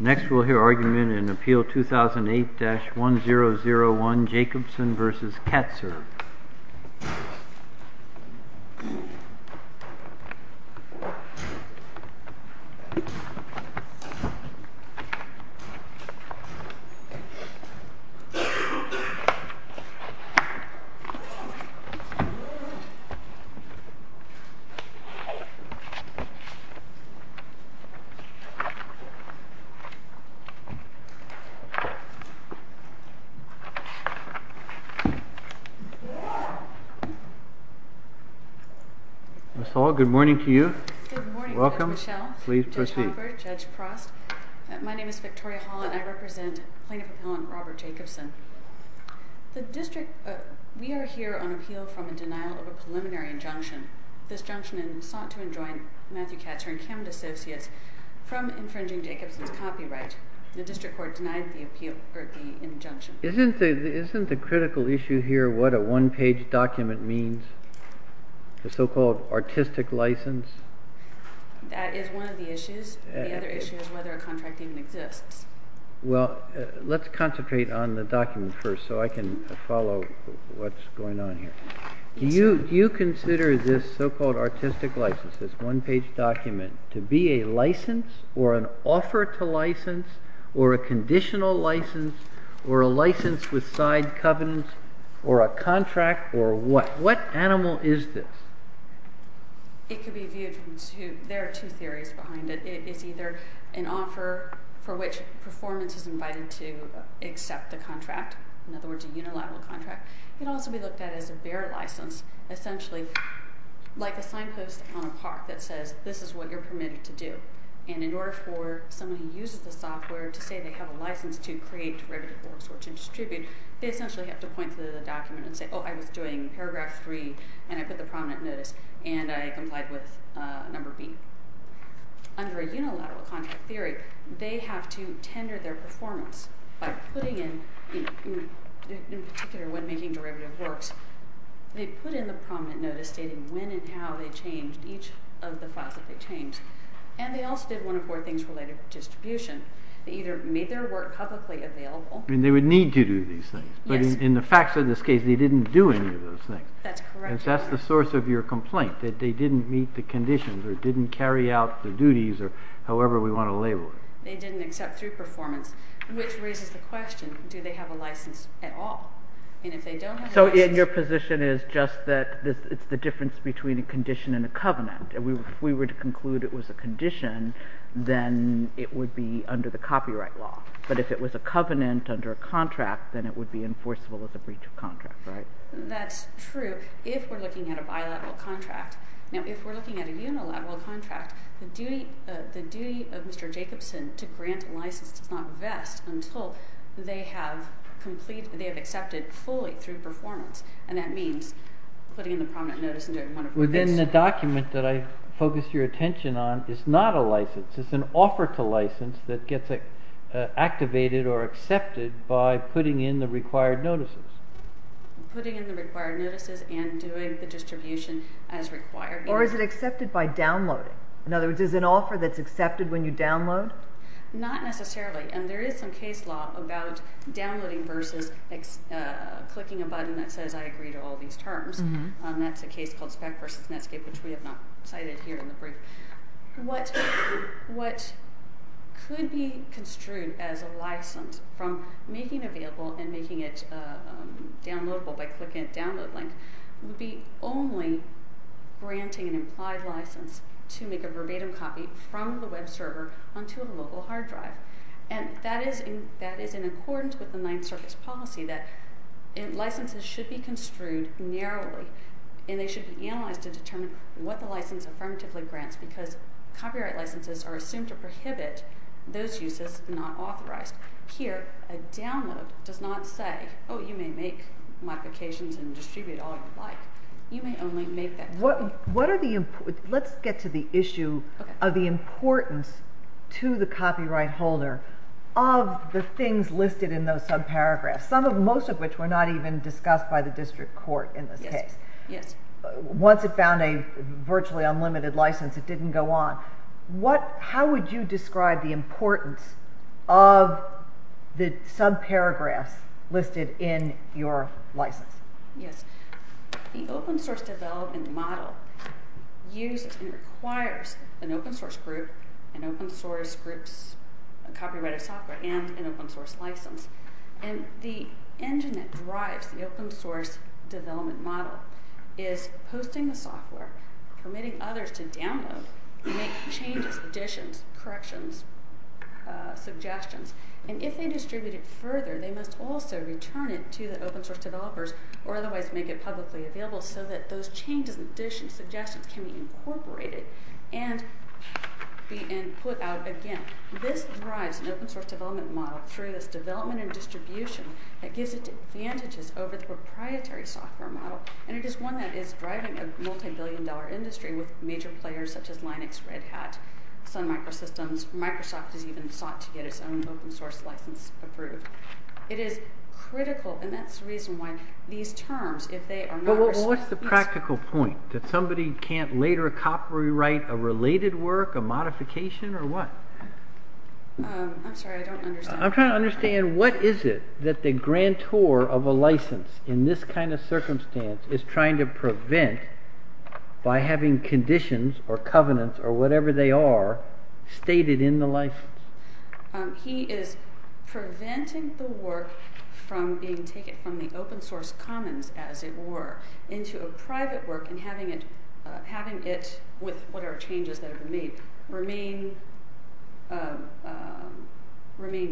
Next we will hear argument in Appeal 2008-1001 Jacobsen v. Katzer Ms. Hall, good morning to you. Good morning Judge Mischel, Judge Halbert, Judge Prost. My name is Victoria Hall and I represent Plaintiff Appellant Robert Jacobsen. We are here on appeal from a denial of a preliminary injunction. This injunction sought to enjoin Matthew Katzer and Camden Associates from infringing Jacobsen's copyright. The District Court denied the injunction. Isn't the critical issue here what a one-page document means, the so-called artistic license? That is one of the issues. The other issue is whether a contract even exists. Well, let's concentrate on the document first so I can follow what's going on here. Do you consider this so-called artistic license, this one-page document, to be a license or an offer to license or a conditional license or a license with side covenants or a contract or what? What animal is this? It could be viewed from two, there are two theories behind it. It is either an offer for which performance is invited to accept the contract, in other words a unilateral contract. It can also be looked at as a bare license, essentially like a signpost on a park that says this is what you're permitted to do. And in order for someone who uses the software to say they have a license to create derivative works or to distribute, they essentially have to point to the document and say, oh, I was doing paragraph 3 and I put the prominent notice and I complied with number B. Under a unilateral contract theory, they have to tender their performance by putting in, in particular when making derivative works, they put in the prominent notice stating when and how they changed each of the files that they changed. And they also did one of four things related to distribution. They either made their work publicly available. And they would need to do these things. Yes. But in the facts of this case, they didn't do any of those things. That's correct. That's the source of your complaint, that they didn't meet the conditions or didn't carry out the duties or however we want to label it. They didn't accept through performance, which raises the question, do they have a license at all? And if they don't have a license. So your position is just that it's the difference between a condition and a covenant. If we were to conclude it was a condition, then it would be under the copyright law. But if it was a covenant under a contract, then it would be enforceable as a breach of contract, right? That's true if we're looking at a bilateral contract. Now, if we're looking at a unilateral contract, the duty of Mr. Jacobson to grant a license does not vest until they have accepted fully through performance. And that means putting in the prominent notice and doing one of four things. Within the document that I focused your attention on is not a license. It's an offer to license that gets activated or accepted by putting in the required notices. Putting in the required notices and doing the distribution as required. Or is it accepted by downloading? In other words, is it an offer that's accepted when you download? Not necessarily. And there is some case law about downloading versus clicking a button that says I agree to all these terms. That's a case called spec versus Netscape, which we have not cited here in the brief. What could be construed as a license from making available and making it downloadable by clicking a download link would be only granting an implied license to make a verbatim copy from the web server onto a local hard drive. And that is in accordance with the Ninth Circuit's policy that licenses should be construed narrowly. And they should be analyzed to determine what the license affirmatively grants because copyright licenses are assumed to prohibit those uses not authorized. Here, a download does not say, oh, you may make modifications and distribute all you like. You may only make that. Let's get to the issue of the importance to the copyright holder of the things listed in those subparagraphs, most of which were not even discussed by the district court in this case. Once it found a virtually unlimited license, it didn't go on. How would you describe the importance of the subparagraphs listed in your license? Yes. The open source development model uses and requires an open source group, an open source group's copyrighted software, and an open source license. And the engine that drives the open source development model is posting the software, permitting others to download, make changes, additions, corrections, suggestions. And if they distribute it further, they must also return it to the open source developers or otherwise make it publicly available so that those changes, additions, suggestions can be incorporated and put out again. This drives an open source development model through this development and distribution that gives it advantages over the proprietary software model. And it is one that is driving a multi-billion dollar industry with major players such as Linux, Red Hat, Sun Microsystems. Microsoft has even sought to get its own open source license approved. It is critical, and that's the reason why these terms, if they are not… But what's the practical point? That somebody can't later copyright a related work, a modification, or what? I'm sorry, I don't understand. I'm trying to understand what is it that the grantor of a license in this kind of circumstance is trying to prevent by having conditions or covenants or whatever they are stated in the license. He is preventing the work from being taken from the open source commons, as it were, into a private work and having it, with whatever changes that have been made, remain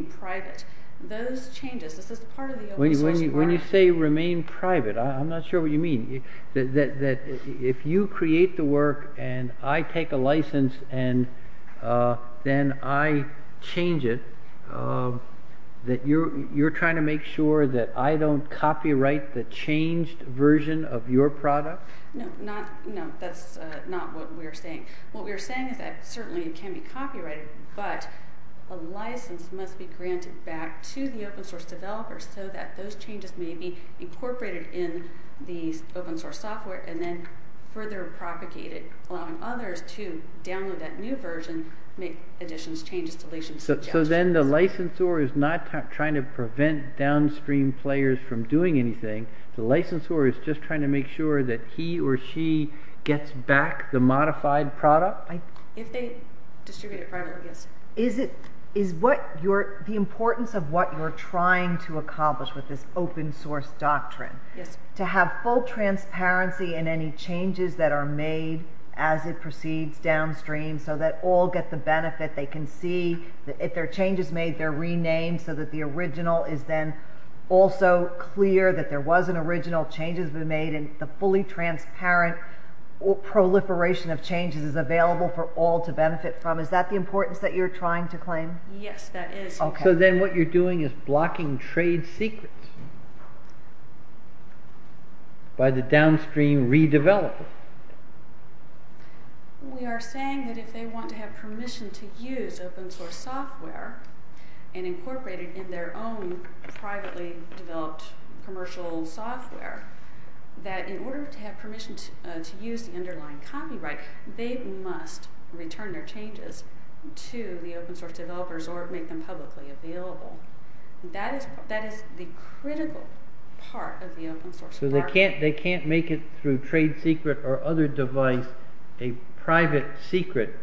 private. Those changes, this is part of the open source work. When you say remain private, I'm not sure what you mean. That if you create the work and I take a license and then I change it, that you're trying to make sure that I don't copyright the changed version of your product? No, that's not what we're saying. What we're saying is that certainly it can be copyrighted, but a license must be granted back to the open source developer so that those changes may be incorporated in the open source software and then further propagated, allowing others to download that new version, make additions, changes, deletions, suggestions. So then the licensor is not trying to prevent downstream players from doing anything. The licensor is just trying to make sure that he or she gets back the modified product? If they distribute it privately, yes. The importance of what you're trying to accomplish with this open source doctrine, to have full transparency in any changes that are made as it proceeds downstream so that all get the benefit. They can see that if their change is made, they're renamed so that the original is then also clear that there was an original change that has been made and the fully transparent proliferation of changes is available for all to benefit from. Is that the importance that you're trying to claim? Yes, that is. So then what you're doing is blocking trade secrets by the downstream redeveloper. We are saying that if they want to have permission to use open source software and incorporate it in their own privately developed commercial software, that in order to have permission to use the underlying copyright, they must return their changes to the open source developers or make them publicly available. That is the critical part of the open source doctrine. So they can't make it through trade secret or other device a private secret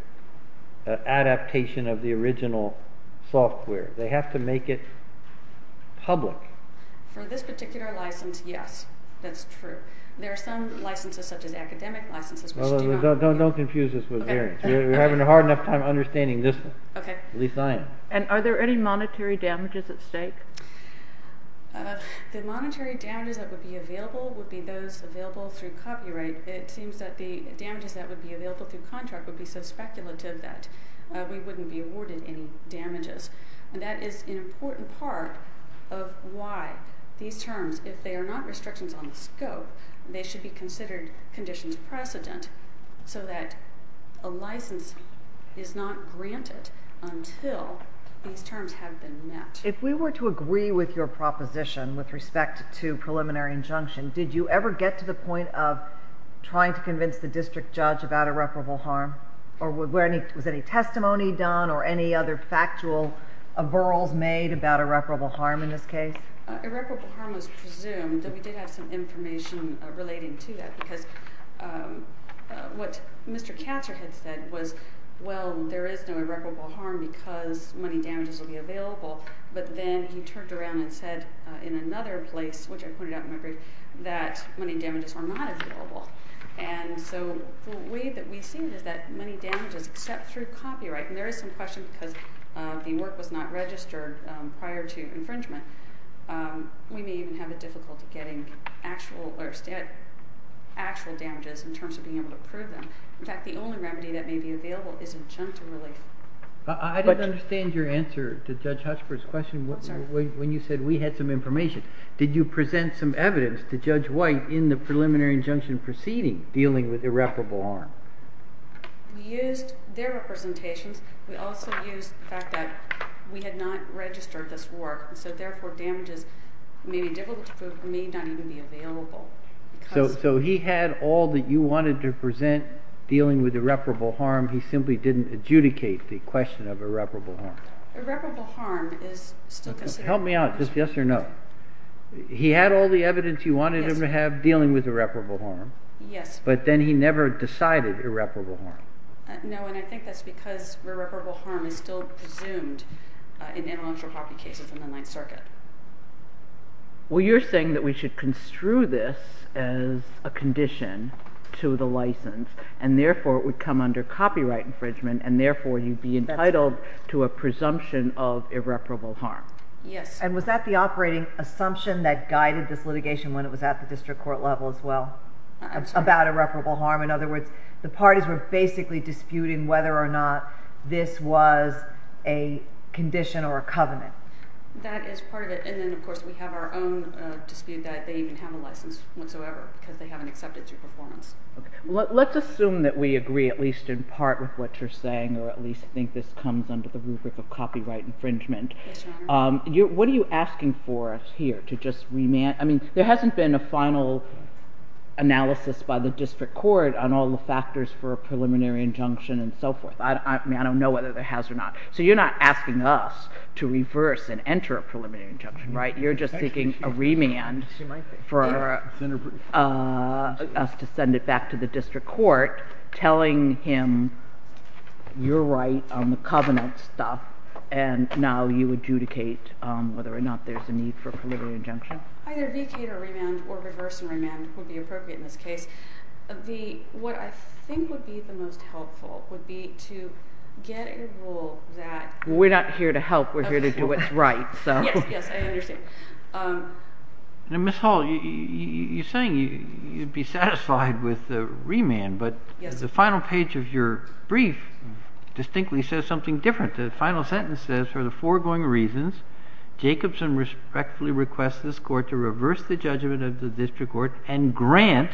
adaptation of the original software. They have to make it public. For this particular license, yes, that's true. There are some licenses such as academic licenses which do not. Don't confuse us with variants. We're having a hard enough time understanding this, at least I am. Are there any monetary damages at stake? The monetary damages that would be available would be those available through copyright. It seems that the damages that would be available through contract would be so speculative that we wouldn't be awarded any damages. And that is an important part of why these terms, if they are not restrictions on the scope, they should be considered conditions precedent so that a license is not granted until these terms have been met. If we were to agree with your proposition with respect to preliminary injunction, did you ever get to the point of trying to convince the district judge about irreparable harm? Or was any testimony done or any other factual referrals made about irreparable harm in this case? Irreparable harm was presumed. We did have some information relating to that because what Mr. Katzer had said was, well, there is no irreparable harm because money damages will be available. But then he turned around and said in another place, which I pointed out in my brief, that money damages were not available. And so the way that we've seen is that money damages, except through copyright, and there is some question because the work was not registered prior to infringement. We may even have a difficulty getting actual damages in terms of being able to prove them. In fact, the only remedy that may be available is injunctive relief. I didn't understand your answer to Judge Hutchford's question when you said we had some information. Did you present some evidence to Judge White in the preliminary injunction proceeding dealing with irreparable harm? We used their representations. We also used the fact that we had not registered this work, and so therefore damages may be difficult to prove, may not even be available. So he had all that you wanted to present dealing with irreparable harm. He simply didn't adjudicate the question of irreparable harm. Irreparable harm is still considered. Help me out. Just yes or no. He had all the evidence you wanted him to have dealing with irreparable harm. Yes. But then he never decided irreparable harm. No, and I think that's because irreparable harm is still presumed in intellectual property cases in the Ninth Circuit. Well, you're saying that we should construe this as a condition to the license, and therefore it would come under copyright infringement, and therefore you'd be entitled to a presumption of irreparable harm. Yes. And was that the operating assumption that guided this litigation when it was at the district court level as well about irreparable harm? In other words, the parties were basically disputing whether or not this was a condition or a covenant. That is part of it. And then, of course, we have our own dispute that they even have a license whatsoever because they haven't accepted your performance. Okay. Let's assume that we agree at least in part with what you're saying or at least think this comes under the rubric of copyright infringement. Yes, Your Honor. What are you asking for us here to just remand? I mean, there hasn't been a final analysis by the district court on all the factors for a preliminary injunction and so forth. I mean, I don't know whether there has or not. So you're not asking us to reverse and enter a preliminary injunction, right? You're just seeking a remand for us to send it back to the district court telling him you're right on the covenant stuff, and now you adjudicate whether or not there's a need for a preliminary injunction. Either vacate or remand or reverse and remand would be appropriate in this case. What I think would be the most helpful would be to get a rule that— We're not here to help. We're here to do what's right. Yes, yes. I understand. Now, Ms. Hall, you're saying you'd be satisfied with the remand. But the final page of your brief distinctly says something different. The final sentence says, for the foregoing reasons, Jacobson respectfully requests this court to reverse the judgment of the district court and grant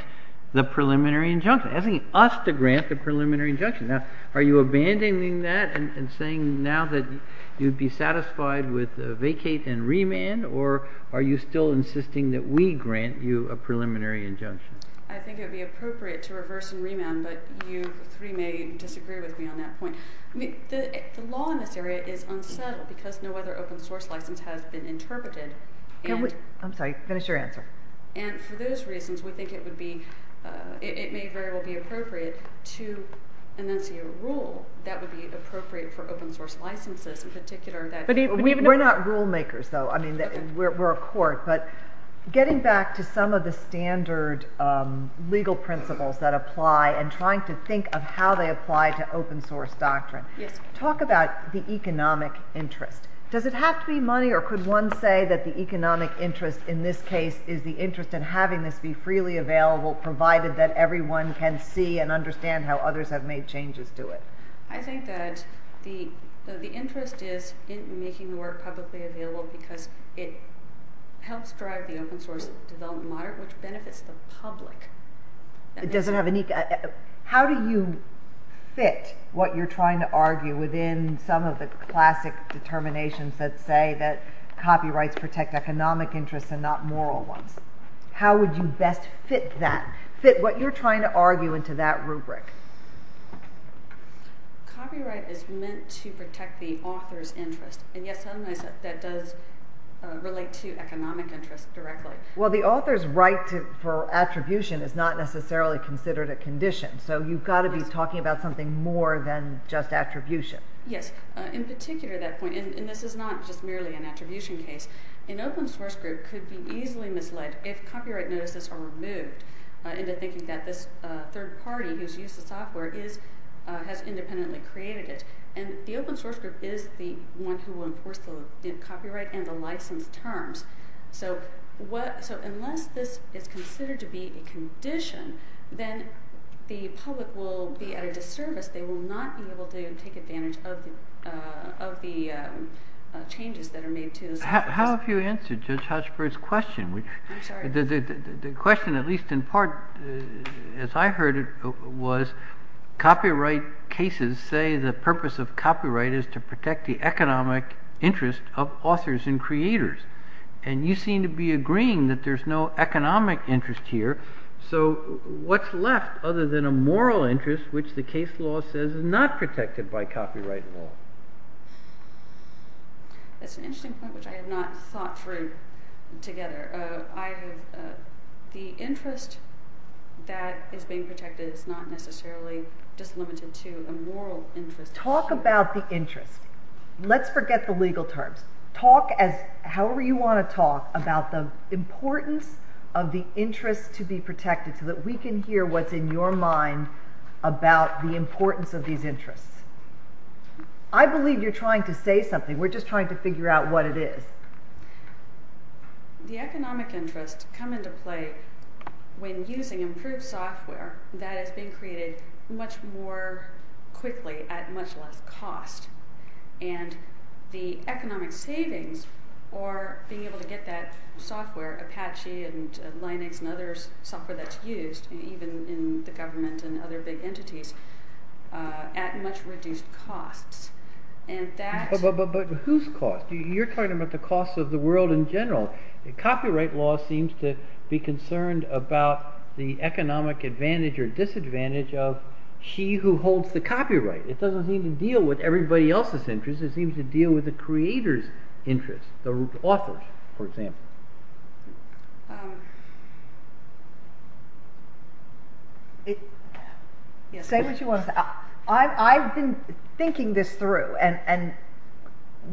the preliminary injunction, asking us to grant the preliminary injunction. Now, are you abandoning that and saying now that you'd be satisfied with a vacate and remand, or are you still insisting that we grant you a preliminary injunction? I think it would be appropriate to reverse and remand, but you three may disagree with me on that point. The law in this area is unsettled because no other open source license has been interpreted. I'm sorry. Finish your answer. And for those reasons, we think it may very well be appropriate to enunciate a rule that would be appropriate for open source licenses in particular. We're not rule makers, though. We're a court. But getting back to some of the standard legal principles that apply and trying to think of how they apply to open source doctrine, talk about the economic interest. Does it have to be money, or could one say that the economic interest in this case is the interest in having this be freely available, provided that everyone can see and understand how others have made changes to it? I think that the interest is in making the work publicly available because it helps drive the open source development model, which benefits the public. How do you fit what you're trying to argue within some of the classic determinations that say that copyrights protect economic interests and not moral ones? How would you best fit that, fit what you're trying to argue into that rubric? Copyright is meant to protect the author's interest. And, yes, that does relate to economic interest directly. Well, the author's right for attribution is not necessarily considered a condition, so you've got to be talking about something more than just attribution. Yes. In particular, that point, and this is not just merely an attribution case, an open source group could be easily misled if copyright notices are removed, into thinking that this third party who's used the software has independently created it. And the open source group is the one who will enforce the copyright and the license terms. So unless this is considered to be a condition, then the public will be at a disservice. They will not be able to take advantage of the changes that are made to the software. How have you answered Judge Hochberg's question? I'm sorry. The question, at least in part, as I heard it, was copyright cases say the purpose of copyright is to protect the economic interest of authors and creators. And you seem to be agreeing that there's no economic interest here. So what's left other than a moral interest which the case law says is not protected by copyright law? That's an interesting point which I have not thought through together. The interest that is being protected is not necessarily just limited to a moral interest. Talk about the interest. Let's forget the legal terms. However you want to talk about the importance of the interest to be protected so that we can hear what's in your mind about the importance of these interests. I believe you're trying to say something. We're just trying to figure out what it is. The economic interests come into play when using improved software that is being created much more quickly at much less cost. And the economic savings are being able to get that software, Apache and Linux and other software that's used, even in the government and other big entities, at much reduced costs. But whose costs? You're talking about the costs of the world in general. Copyright law seems to be concerned about the economic advantage or disadvantage of she who holds the copyright. It doesn't seem to deal with everybody else's interest. It seems to deal with the creator's interest, the author's, for example. Say what you want to say. I've been thinking this through, and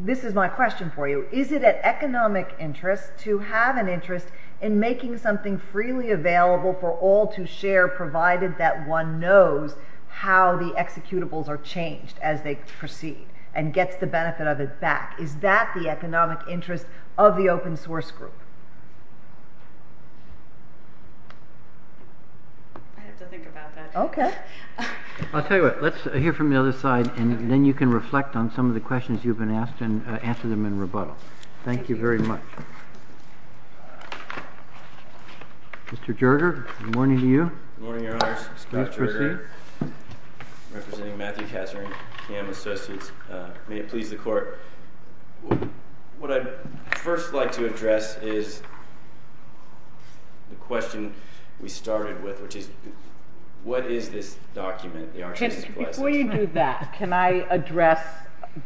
this is my question for you. Is it an economic interest to have an interest in making something freely available for all to share provided that one knows how the executables are changed as they proceed and gets the benefit of it back? Is that the economic interest of the open source group? I have to think about that. OK. I'll tell you what. Let's hear from the other side, and then you can reflect on some of the questions you've been asked and answer them in rebuttal. Thank you very much. Mr. Jerger, good morning to you. Good morning, Your Honors. Please proceed. I'm representing Matthew Kazner and Cam Associates. May it please the Court. What I'd first like to address is the question we started with, which is what is this document? Before you do that, can I address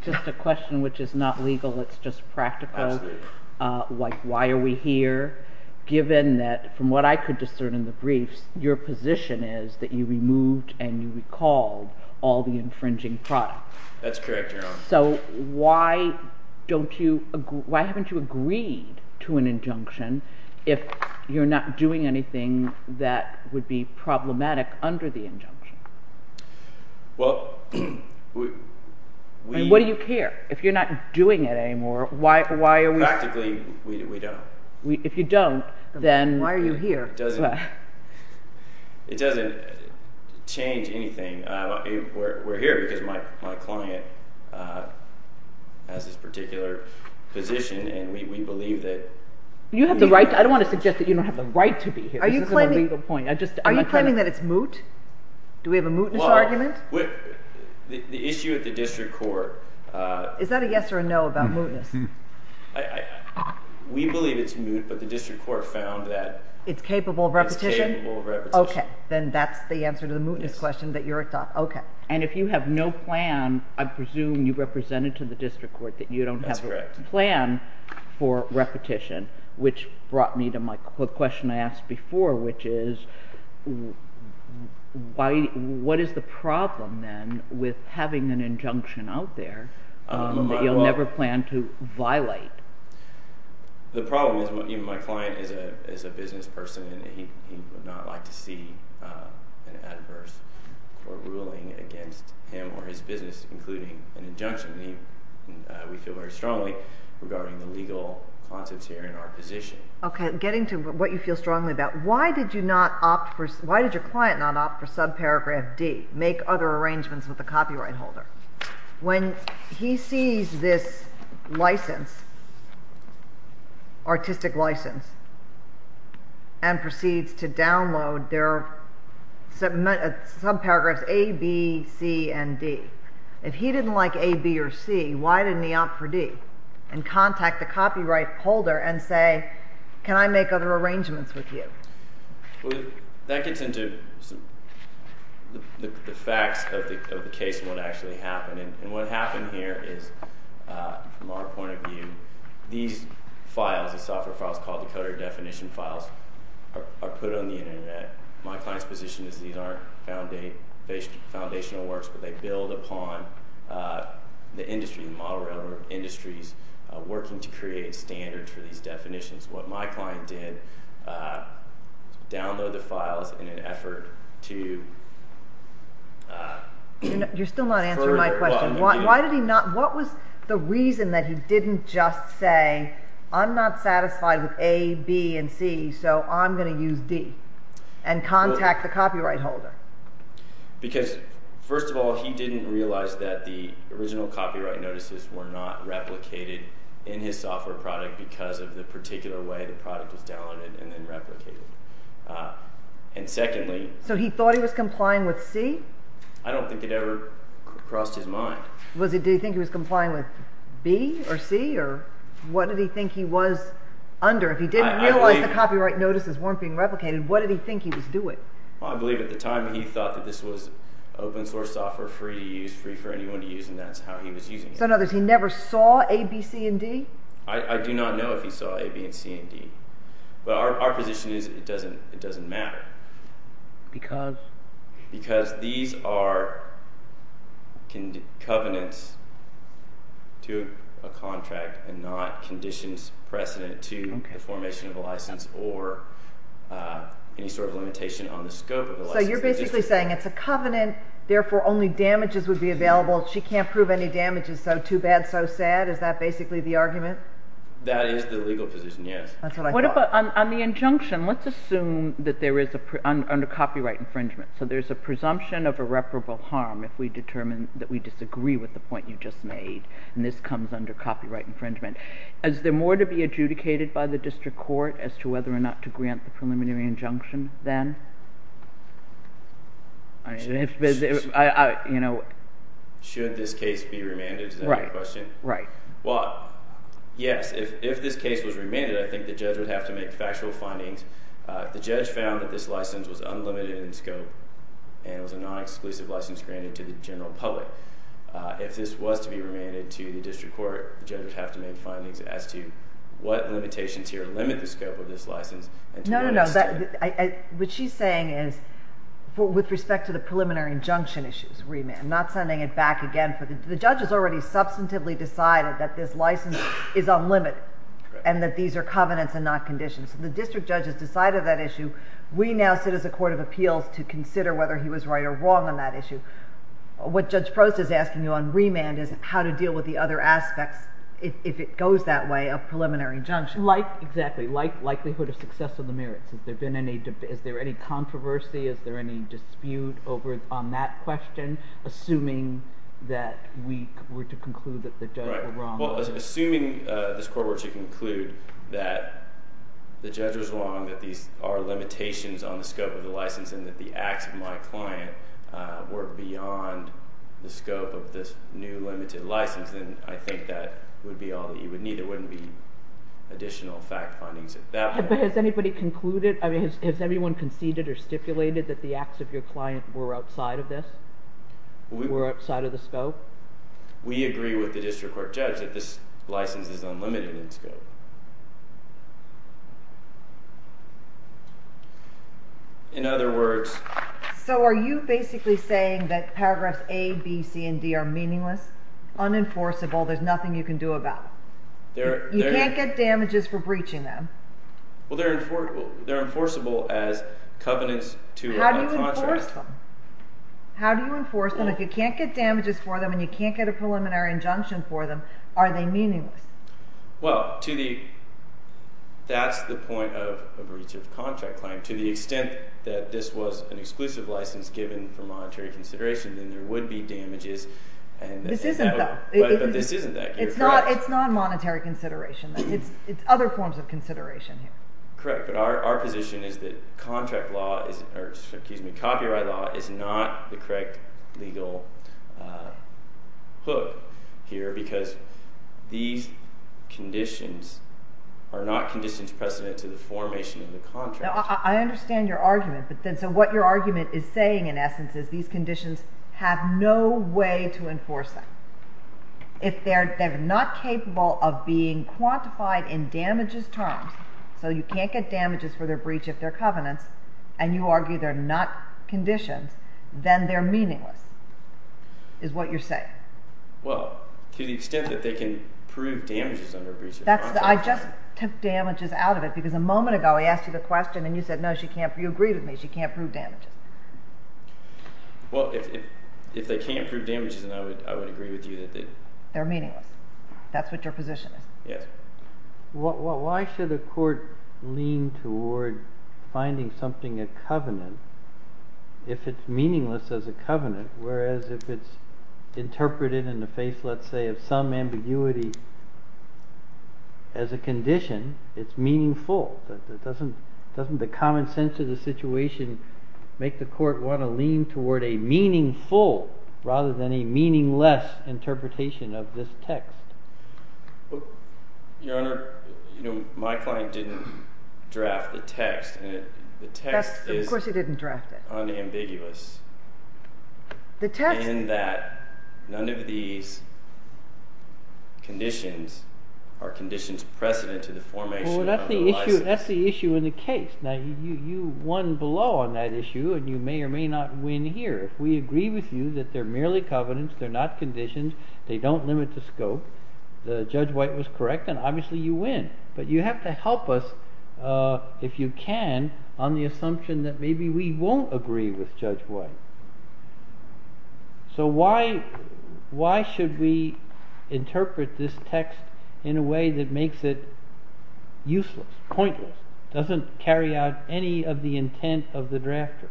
just a question which is not legal. It's just practical. Absolutely. Like why are we here, given that from what I could discern in the briefs, your position is that you removed and you recalled all the infringing products. That's correct, Your Honor. So why haven't you agreed to an injunction if you're not doing anything that would be problematic under the injunction? Well, we— What do you care? If you're not doing it anymore, why are we— Practically, we don't. If you don't, then— Why are you here? It doesn't change anything. We're here because my client has this particular position, and we believe that— You have the right to—I don't want to suggest that you don't have the right to be here. This isn't a legal point. Are you claiming that it's moot? Do we have a mootness argument? The issue at the district court— Is that a yes or a no about mootness? We believe it's moot, but the district court found that— It's capable of repetition? It's capable of repetition. Okay, then that's the answer to the mootness question that you're— Okay. And if you have no plan, I presume you represented to the district court that you don't have a plan for repetition, which brought me to my question I asked before, which is, what is the problem, then, with having an injunction out there that you'll never plan to violate? The problem is my client is a business person, and he would not like to see an adverse court ruling against him or his business, including an injunction. We feel very strongly regarding the legal concepts here in our position. Okay, getting to what you feel strongly about, why did you not opt for—why did your client not opt for subparagraph D, make other arrangements with a copyright holder? When he sees this license, artistic license, and proceeds to download their subparagraphs A, B, C, and D, if he didn't like A, B, or C, why didn't he opt for D and contact the copyright holder and say, can I make other arrangements with you? That gets into the facts of the case and what actually happened. And what happened here is, from our point of view, these files, the software files called the coder definition files, are put on the Internet. My client's position is these aren't foundational works, but they build upon the industry, the model railroad industries, working to create standards for these definitions. What my client did was download the files in an effort to further— You're still not answering my question. Why did he not—what was the reason that he didn't just say, I'm not satisfied with A, B, and C, so I'm going to use D, and contact the copyright holder? Because, first of all, he didn't realize that the original copyright notices were not replicated in his software product because of the particular way the product was downloaded and then replicated. And secondly— So he thought he was complying with C? I don't think it ever crossed his mind. Did he think he was complying with B or C, or what did he think he was under? If he didn't realize the copyright notices weren't being replicated, what did he think he was doing? I believe at the time he thought that this was open source software, free to use, free for anyone to use, and that's how he was using it. So in other words, he never saw A, B, C, and D? I do not know if he saw A, B, and C, and D. But our position is it doesn't matter. Because? Because these are covenants to a contract and not conditions precedent to the formation of a license or any sort of limitation on the scope of the license. So you're basically saying it's a covenant, therefore only damages would be available, she can't prove any damages, so too bad, so sad, is that basically the argument? That is the legal position, yes. That's what I thought. On the injunction, let's assume that there is, under copyright infringement, so there's a presumption of irreparable harm if we determine that we disagree with the point you just made, and this comes under copyright infringement. Is there more to be adjudicated by the district court as to whether or not to grant the preliminary injunction then? Should this case be remanded, is that your question? Right. Well, yes, if this case was remanded, I think the judge would have to make factual findings. The judge found that this license was unlimited in scope and was a non-exclusive license granted to the general public. If this was to be remanded to the district court, the judge would have to make findings as to what limitations here limit the scope of this license. No, no, no. What she's saying is, with respect to the preliminary injunction issues, remand, not sending it back again. The judge has already substantively decided that this license is unlimited and that these are covenants and not conditions. The district judge has decided that issue. We now sit as a court of appeals to consider whether he was right or wrong on that issue. What Judge Prost is asking you on remand is how to deal with the other aspects, if it goes that way, of preliminary injunction. Exactly. Likelihood of success of the merits. Has there been any controversy? Is there any dispute on that question, assuming that we were to conclude that the judge was wrong? Right. Well, assuming this court were to conclude that the judge was wrong, that these are limitations on the scope of the license, and that the acts of my client were beyond the scope of this new limited license, then I think that would be all that you would need. It wouldn't be additional fact findings at that point. But has anybody concluded, I mean, has everyone conceded or stipulated that the acts of your client were outside of this? Were outside of the scope? We agree with the district court judge that this license is unlimited in scope. In other words... So are you basically saying that paragraphs A, B, C, and D are meaningless, unenforceable, there's nothing you can do about them? You can't get damages for breaching them? Well, they're enforceable as covenants to a contract. How do you enforce them? How do you enforce them? If you can't get damages for them and you can't get a preliminary injunction for them, are they meaningless? Well, that's the point of a breach of contract claim. To the extent that this was an exclusive license given for monetary consideration, then there would be damages. This isn't, though. But this isn't, you're correct. It's not monetary consideration. It's other forms of consideration. Correct, but our position is that copyright law is not the correct legal hook here, because these conditions are not conditions precedent to the formation of the contract. I understand your argument. So what your argument is saying, in essence, is these conditions have no way to enforce them. If they're not capable of being quantified in damages terms, so you can't get damages for their breach if they're covenants, and you argue they're not conditions, then they're meaningless, is what you're saying. Well, to the extent that they can prove damages under a breach of contract. I just took damages out of it, because a moment ago I asked you the question, and you said, no, you agree with me, she can't prove damages. Well, if they can't prove damages, then I would agree with you that they... They're meaningless. That's what your position is. Yes. Why should a court lean toward finding something a covenant if it's meaningless as a covenant, whereas if it's interpreted in the face, let's say, of some ambiguity as a condition, it's meaningful. Doesn't the common sense of the situation make the court want to lean toward a meaningful rather than a meaningless interpretation of this text? Your Honor, my client didn't draft the text. Of course he didn't draft it. The text is unambiguous in that none of these conditions are conditions precedent to the formation of the license. Well, that's the issue in the case. Now, you won below on that issue, and you may or may not win here. If we agree with you that they're merely covenants, they're not conditions, they don't limit the scope. Judge White was correct, and obviously you win. But you have to help us, if you can, on the assumption that maybe we won't agree with Judge White. So why should we interpret this text in a way that makes it useless, pointless, doesn't carry out any of the intent of the drafter?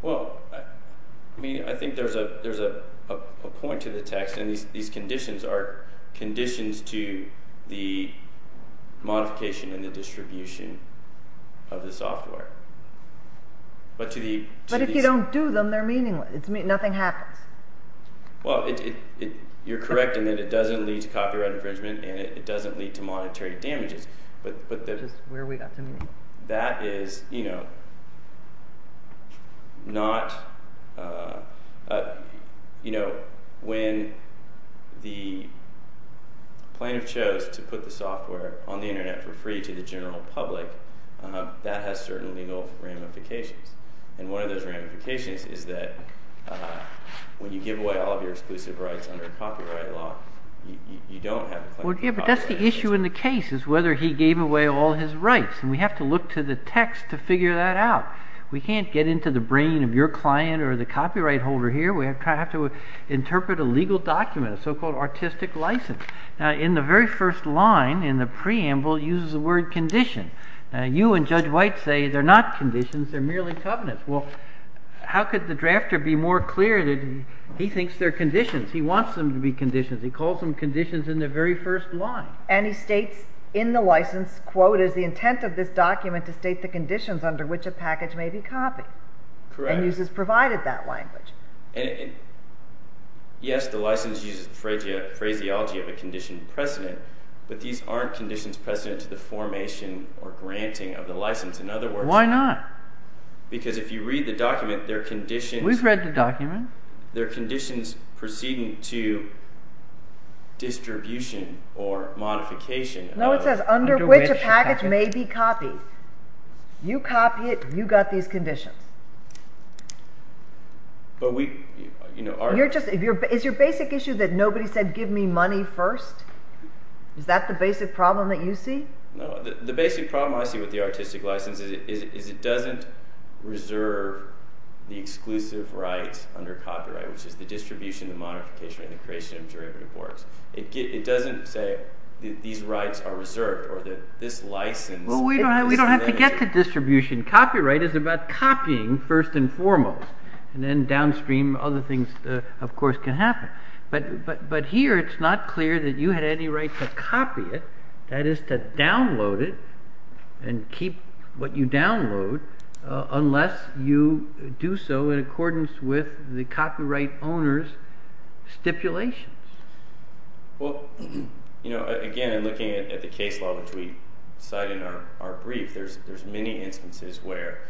Well, I think there's a point to the text, and these conditions are conditions to the modification and the distribution of the software. But if you don't do them, they're meaningless. Nothing happens. Well, you're correct in that it doesn't lead to copyright infringement, and it doesn't lead to monetary damages. Which is where we got to meaningless. That is, you know, when the plaintiff chose to put the software on the internet for free to the general public, that has certain legal ramifications. And one of those ramifications is that when you give away all of your exclusive rights under copyright law, you don't have a claim to copyright. Yeah, but that's the issue in the case, is whether he gave away all his rights. And we have to look to the text to figure that out. We can't get into the brain of your client or the copyright holder here. We have to interpret a legal document, a so-called artistic license. In the very first line, in the preamble, it uses the word condition. You and Judge White say they're not conditions, they're merely covenants. Well, how could the drafter be more clear that he thinks they're conditions? He wants them to be conditions. He calls them conditions in the very first line. And he states in the license, quote, is the intent of this document to state the conditions under which a package may be copied. Correct. And uses provided that language. Yes, the license uses the phraseology of a condition precedent, but these aren't conditions precedent to the formation or granting of the license. In other words… Why not? We've read the document. They're conditions precedent to distribution or modification. No, it says under which a package may be copied. You copy it, you got these conditions. Is your basic issue that nobody said give me money first? Is that the basic problem that you see? No, the basic problem I see with the artistic license is it doesn't reserve the exclusive rights under copyright, which is the distribution, the modification, and the creation of derivative works. It doesn't say these rights are reserved or that this license… Well, we don't have to get to distribution. Copyright is about copying first and foremost. And then downstream, other things, of course, can happen. But here it's not clear that you had any right to copy it. That is to download it and keep what you download unless you do so in accordance with the copyright owner's stipulations. Well, again, in looking at the case law, which we cite in our brief, there's many instances where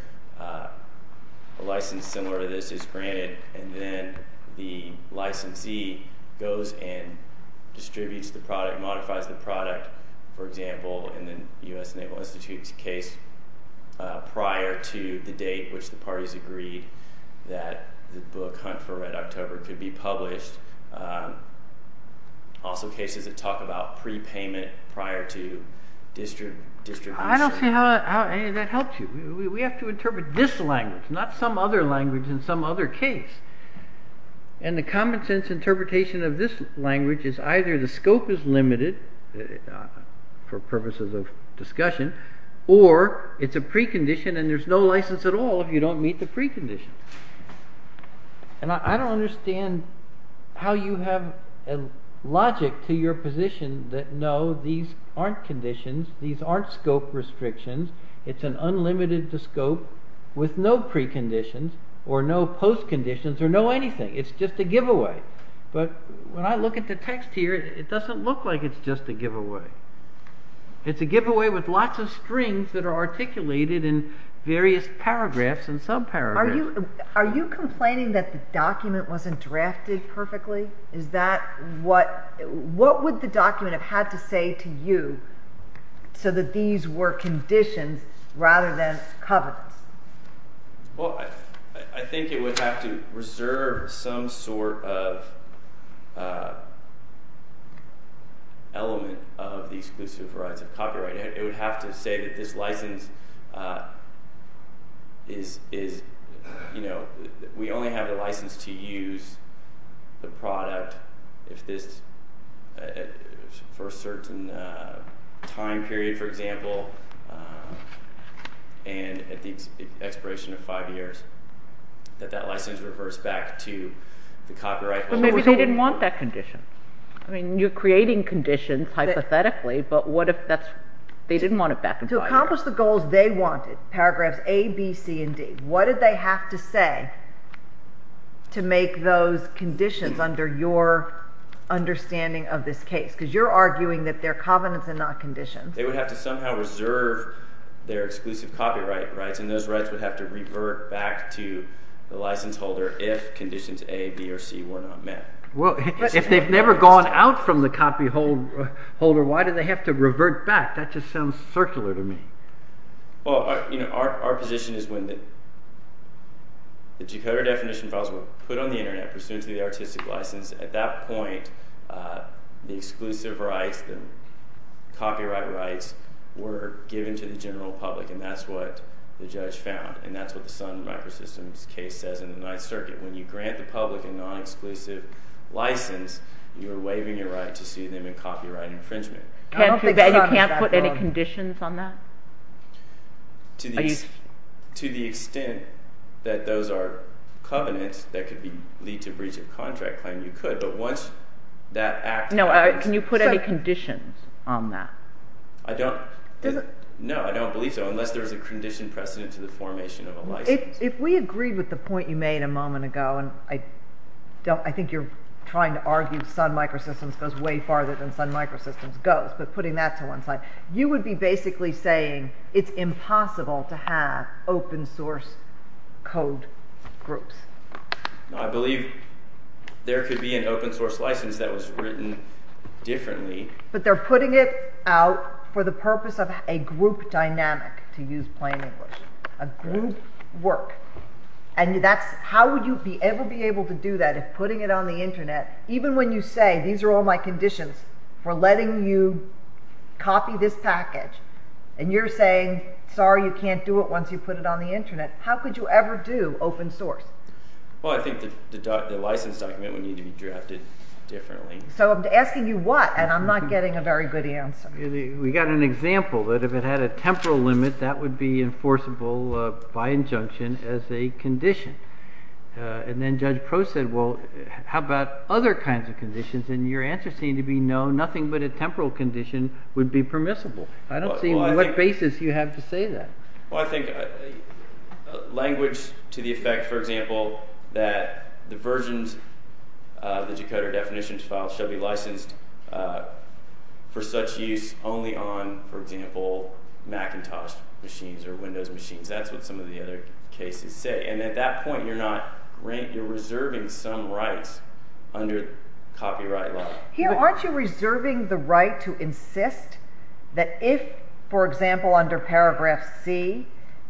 a license similar to this is granted and then the licensee goes and distributes the product, modifies the product. For example, in the US Naval Institute's case, prior to the date which the parties agreed that the book Hunt for Red October could be published, also cases that talk about prepayment prior to distribution. I don't see how any of that helps you. We have to interpret this language, not some other language in some other case. And the common sense interpretation of this language is either the scope is limited, for purposes of discussion, or it's a precondition and there's no license at all if you don't meet the precondition. And I don't understand how you have a logic to your position that, no, these aren't conditions, these aren't scope restrictions. It's an unlimited scope with no preconditions or no postconditions or no anything. It's just a giveaway. But when I look at the text here, it doesn't look like it's just a giveaway. It's a giveaway with lots of strings that are articulated in various paragraphs and subparagraphs. Are you complaining that the document wasn't drafted perfectly? Is that what – what would the document have had to say to you so that these were conditions rather than covenants? Well, I think it would have to reserve some sort of element of the exclusive rights of copyright. It would have to say that this license is – we only have the license to use the product if this – for a certain time period, for example, and at the expiration of five years. That that license reverts back to the copyright holders. But maybe they didn't want that condition. I mean you're creating conditions hypothetically, but what if that's – they didn't want it back in five years. To accomplish the goals they wanted, paragraphs A, B, C, and D, what did they have to say to make those conditions under your understanding of this case? Because you're arguing that they're covenants and not conditions. They would have to somehow reserve their exclusive copyright rights, and those rights would have to revert back to the license holder if conditions A, B, or C were not met. Well, if they've never gone out from the copy holder, why do they have to revert back? That just sounds circular to me. Well, our position is when the decoder definition files were put on the internet pursuant to the artistic license, at that point the exclusive rights, the copyright rights were given to the general public, and that's what the judge found. And that's what the Sun Microsystems case says in the Ninth Circuit. When you grant the public a non-exclusive license, you're waiving your right to see them in copyright infringement. I don't think Sun has that problem. You can't put any conditions on that? To the extent that those are covenants that could lead to breach of contract claim, you could. But once that act – No, can you put any conditions on that? No, I don't believe so, unless there's a condition precedent to the formation of a license. If we agreed with the point you made a moment ago, and I think you're trying to argue Sun Microsystems goes way farther than Sun Microsystems goes, but putting that to one side, you would be basically saying it's impossible to have open source code groups. I believe there could be an open source license that was written differently. But they're putting it out for the purpose of a group dynamic, to use plain English. A group work. And that's – how would you ever be able to do that if putting it on the Internet, even when you say these are all my conditions for letting you copy this package, and you're saying sorry you can't do it once you put it on the Internet, how could you ever do open source? Well, I think the license document would need to be drafted differently. So I'm asking you what, and I'm not getting a very good answer. We got an example that if it had a temporal limit, that would be enforceable by injunction as a condition. And then Judge Crow said, well, how about other kinds of conditions, and your answer seemed to be no, nothing but a temporal condition would be permissible. I don't see what basis you have to say that. Well, I think language to the effect, for example, that the versions of the decoder definitions file should be licensed for such use only on, for example, Macintosh machines or Windows machines. That's what some of the other cases say. And at that point, you're not – you're reserving some rights under copyright law. Here, aren't you reserving the right to insist that if, for example, under paragraph C,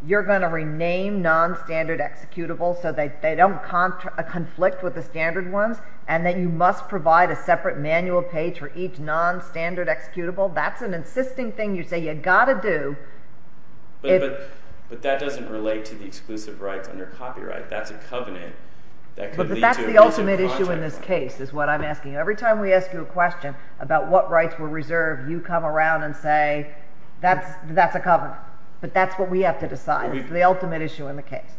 you're going to rename non-standard executables so they don't conflict with the standard ones, and that you must provide a separate manual page for each non-standard executable? That's an insisting thing you say you've got to do. But that doesn't relate to the exclusive rights under copyright. That's a covenant that could lead to a missing contract. The ultimate issue in this case is what I'm asking. Every time we ask you a question about what rights were reserved, you come around and say, that's a covenant. But that's what we have to decide. It's the ultimate issue in the case.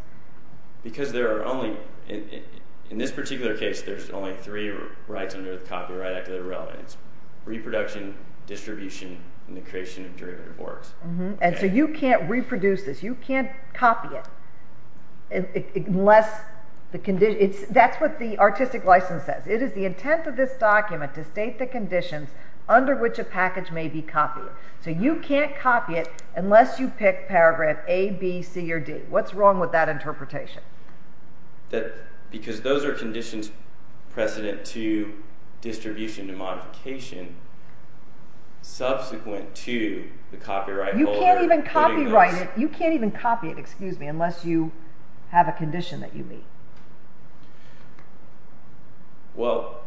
Because there are only – in this particular case, there's only three rights under the Copyright Act that are relevant. It's reproduction, distribution, and the creation of derivative works. And so you can't reproduce this. You can't copy it unless – that's what the artistic license says. It is the intent of this document to state the conditions under which a package may be copied. So you can't copy it unless you pick paragraph A, B, C, or D. What's wrong with that interpretation? Because those are conditions precedent to distribution and modification subsequent to the copyright holder. You can't even copyright it – you can't even copy it, excuse me, unless you have a condition that you meet. Well,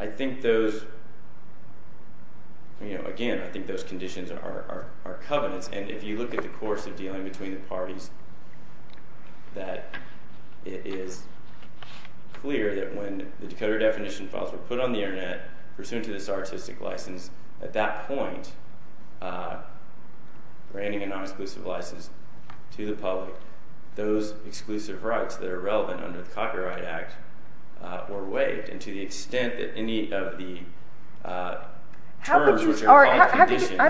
I think those – again, I think those conditions are covenants. And if you look at the course of dealing between the parties, that it is clear that when the decoder definition files were put on the Internet, pursuant to this artistic license, at that point, granting a non-exclusive license to the public, those exclusive rights that are relevant under the Copyright Act were waived. And to the extent that any of the terms which are called conditions –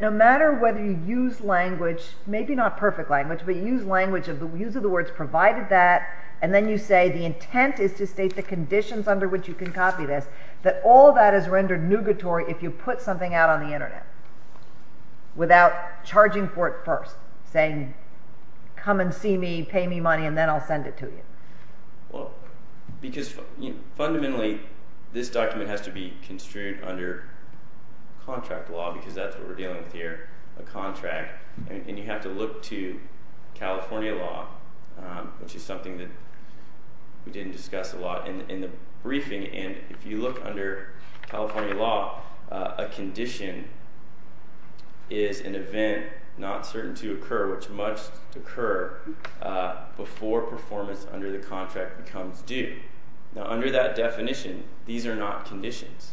no matter whether you use language, maybe not perfect language, but you use language of the – use of the words provided that, and then you say the intent is to state the conditions under which you can copy this, that all of that is rendered nugatory if you put something out on the Internet without charging for it first, saying come and see me, pay me money, and then I'll send it to you. Well, because fundamentally this document has to be construed under contract law because that's what we're dealing with here, a contract. And you have to look to California law, which is something that we didn't discuss a lot in the briefing. And if you look under California law, a condition is an event not certain to occur, which must occur before performance under the contract becomes due. Now, under that definition, these are not conditions.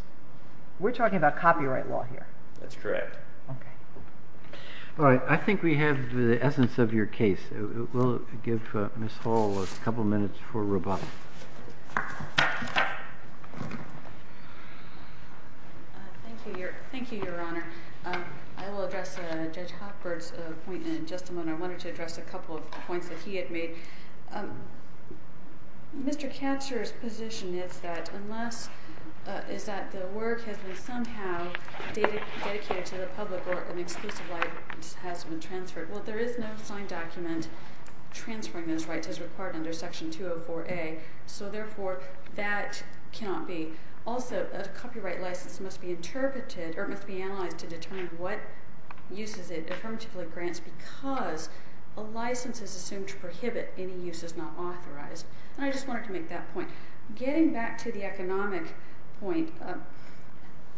We're talking about copyright law here. That's correct. Okay. All right. I think we have the essence of your case. We'll give Ms. Hall a couple minutes for rebuttal. Thank you, Your Honor. I will address Judge Hochberg's point in a just a moment. I wanted to address a couple of points that he had made. Mr. Katzer's position is that the work has been somehow dedicated to the public or an exclusive right has been transferred. Well, there is no signed document transferring those rights as required under Section 204A. So, therefore, that cannot be. Also, a copyright license must be interpreted or it must be analyzed to determine what uses it is not authorized. And I just wanted to make that point. Getting back to the economic point,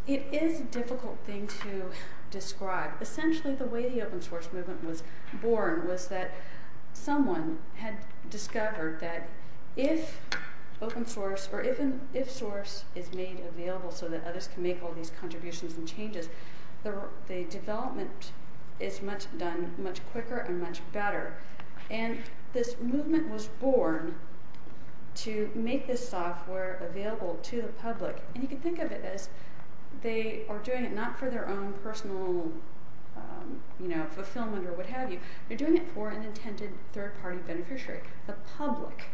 it is a difficult thing to describe. Essentially, the way the open source movement was born was that someone had discovered that if open source or even if source is made available so that others can make all these contributions and changes, the development is done much quicker and much better. And this movement was born to make this software available to the public. And you can think of it as they are doing it not for their own personal fulfillment or what have you. They're doing it for an intended third-party beneficiary, the public.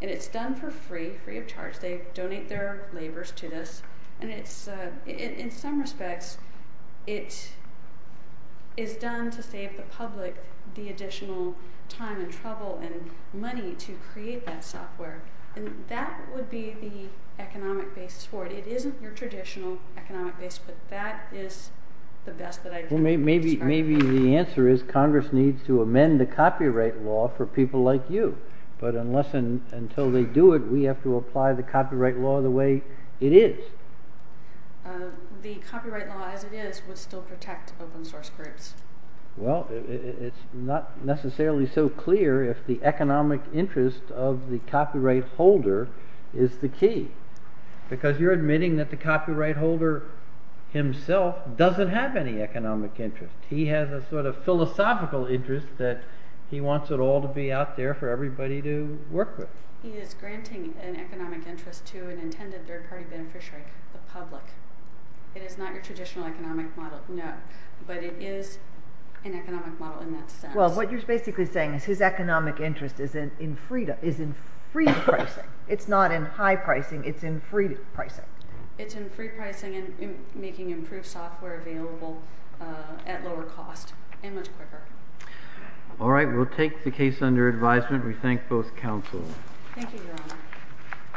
And it's done for free, free of charge. They donate their labors to this. In some respects, it is done to save the public the additional time and trouble and money to create that software. And that would be the economic basis for it. It isn't your traditional economic basis, but that is the best that I can describe. Maybe the answer is Congress needs to amend the copyright law for people like you. But unless and until they do it, we have to apply the copyright law the way it is. The copyright law as it is would still protect open source groups. Well, it's not necessarily so clear if the economic interest of the copyright holder is the key. Because you're admitting that the copyright holder himself doesn't have any economic interest. He has a sort of philosophical interest that he wants it all to be out there for everybody to work with. He is granting an economic interest to an intended third-party beneficiary, the public. It is not your traditional economic model, no. But it is an economic model in that sense. Well, what you're basically saying is his economic interest is in free pricing. It's not in high pricing. It's in free pricing. It's in free pricing and making improved software available at lower cost and much quicker. All right. We'll take the case under advisement. We thank both counsels. Thank you, Your Honor.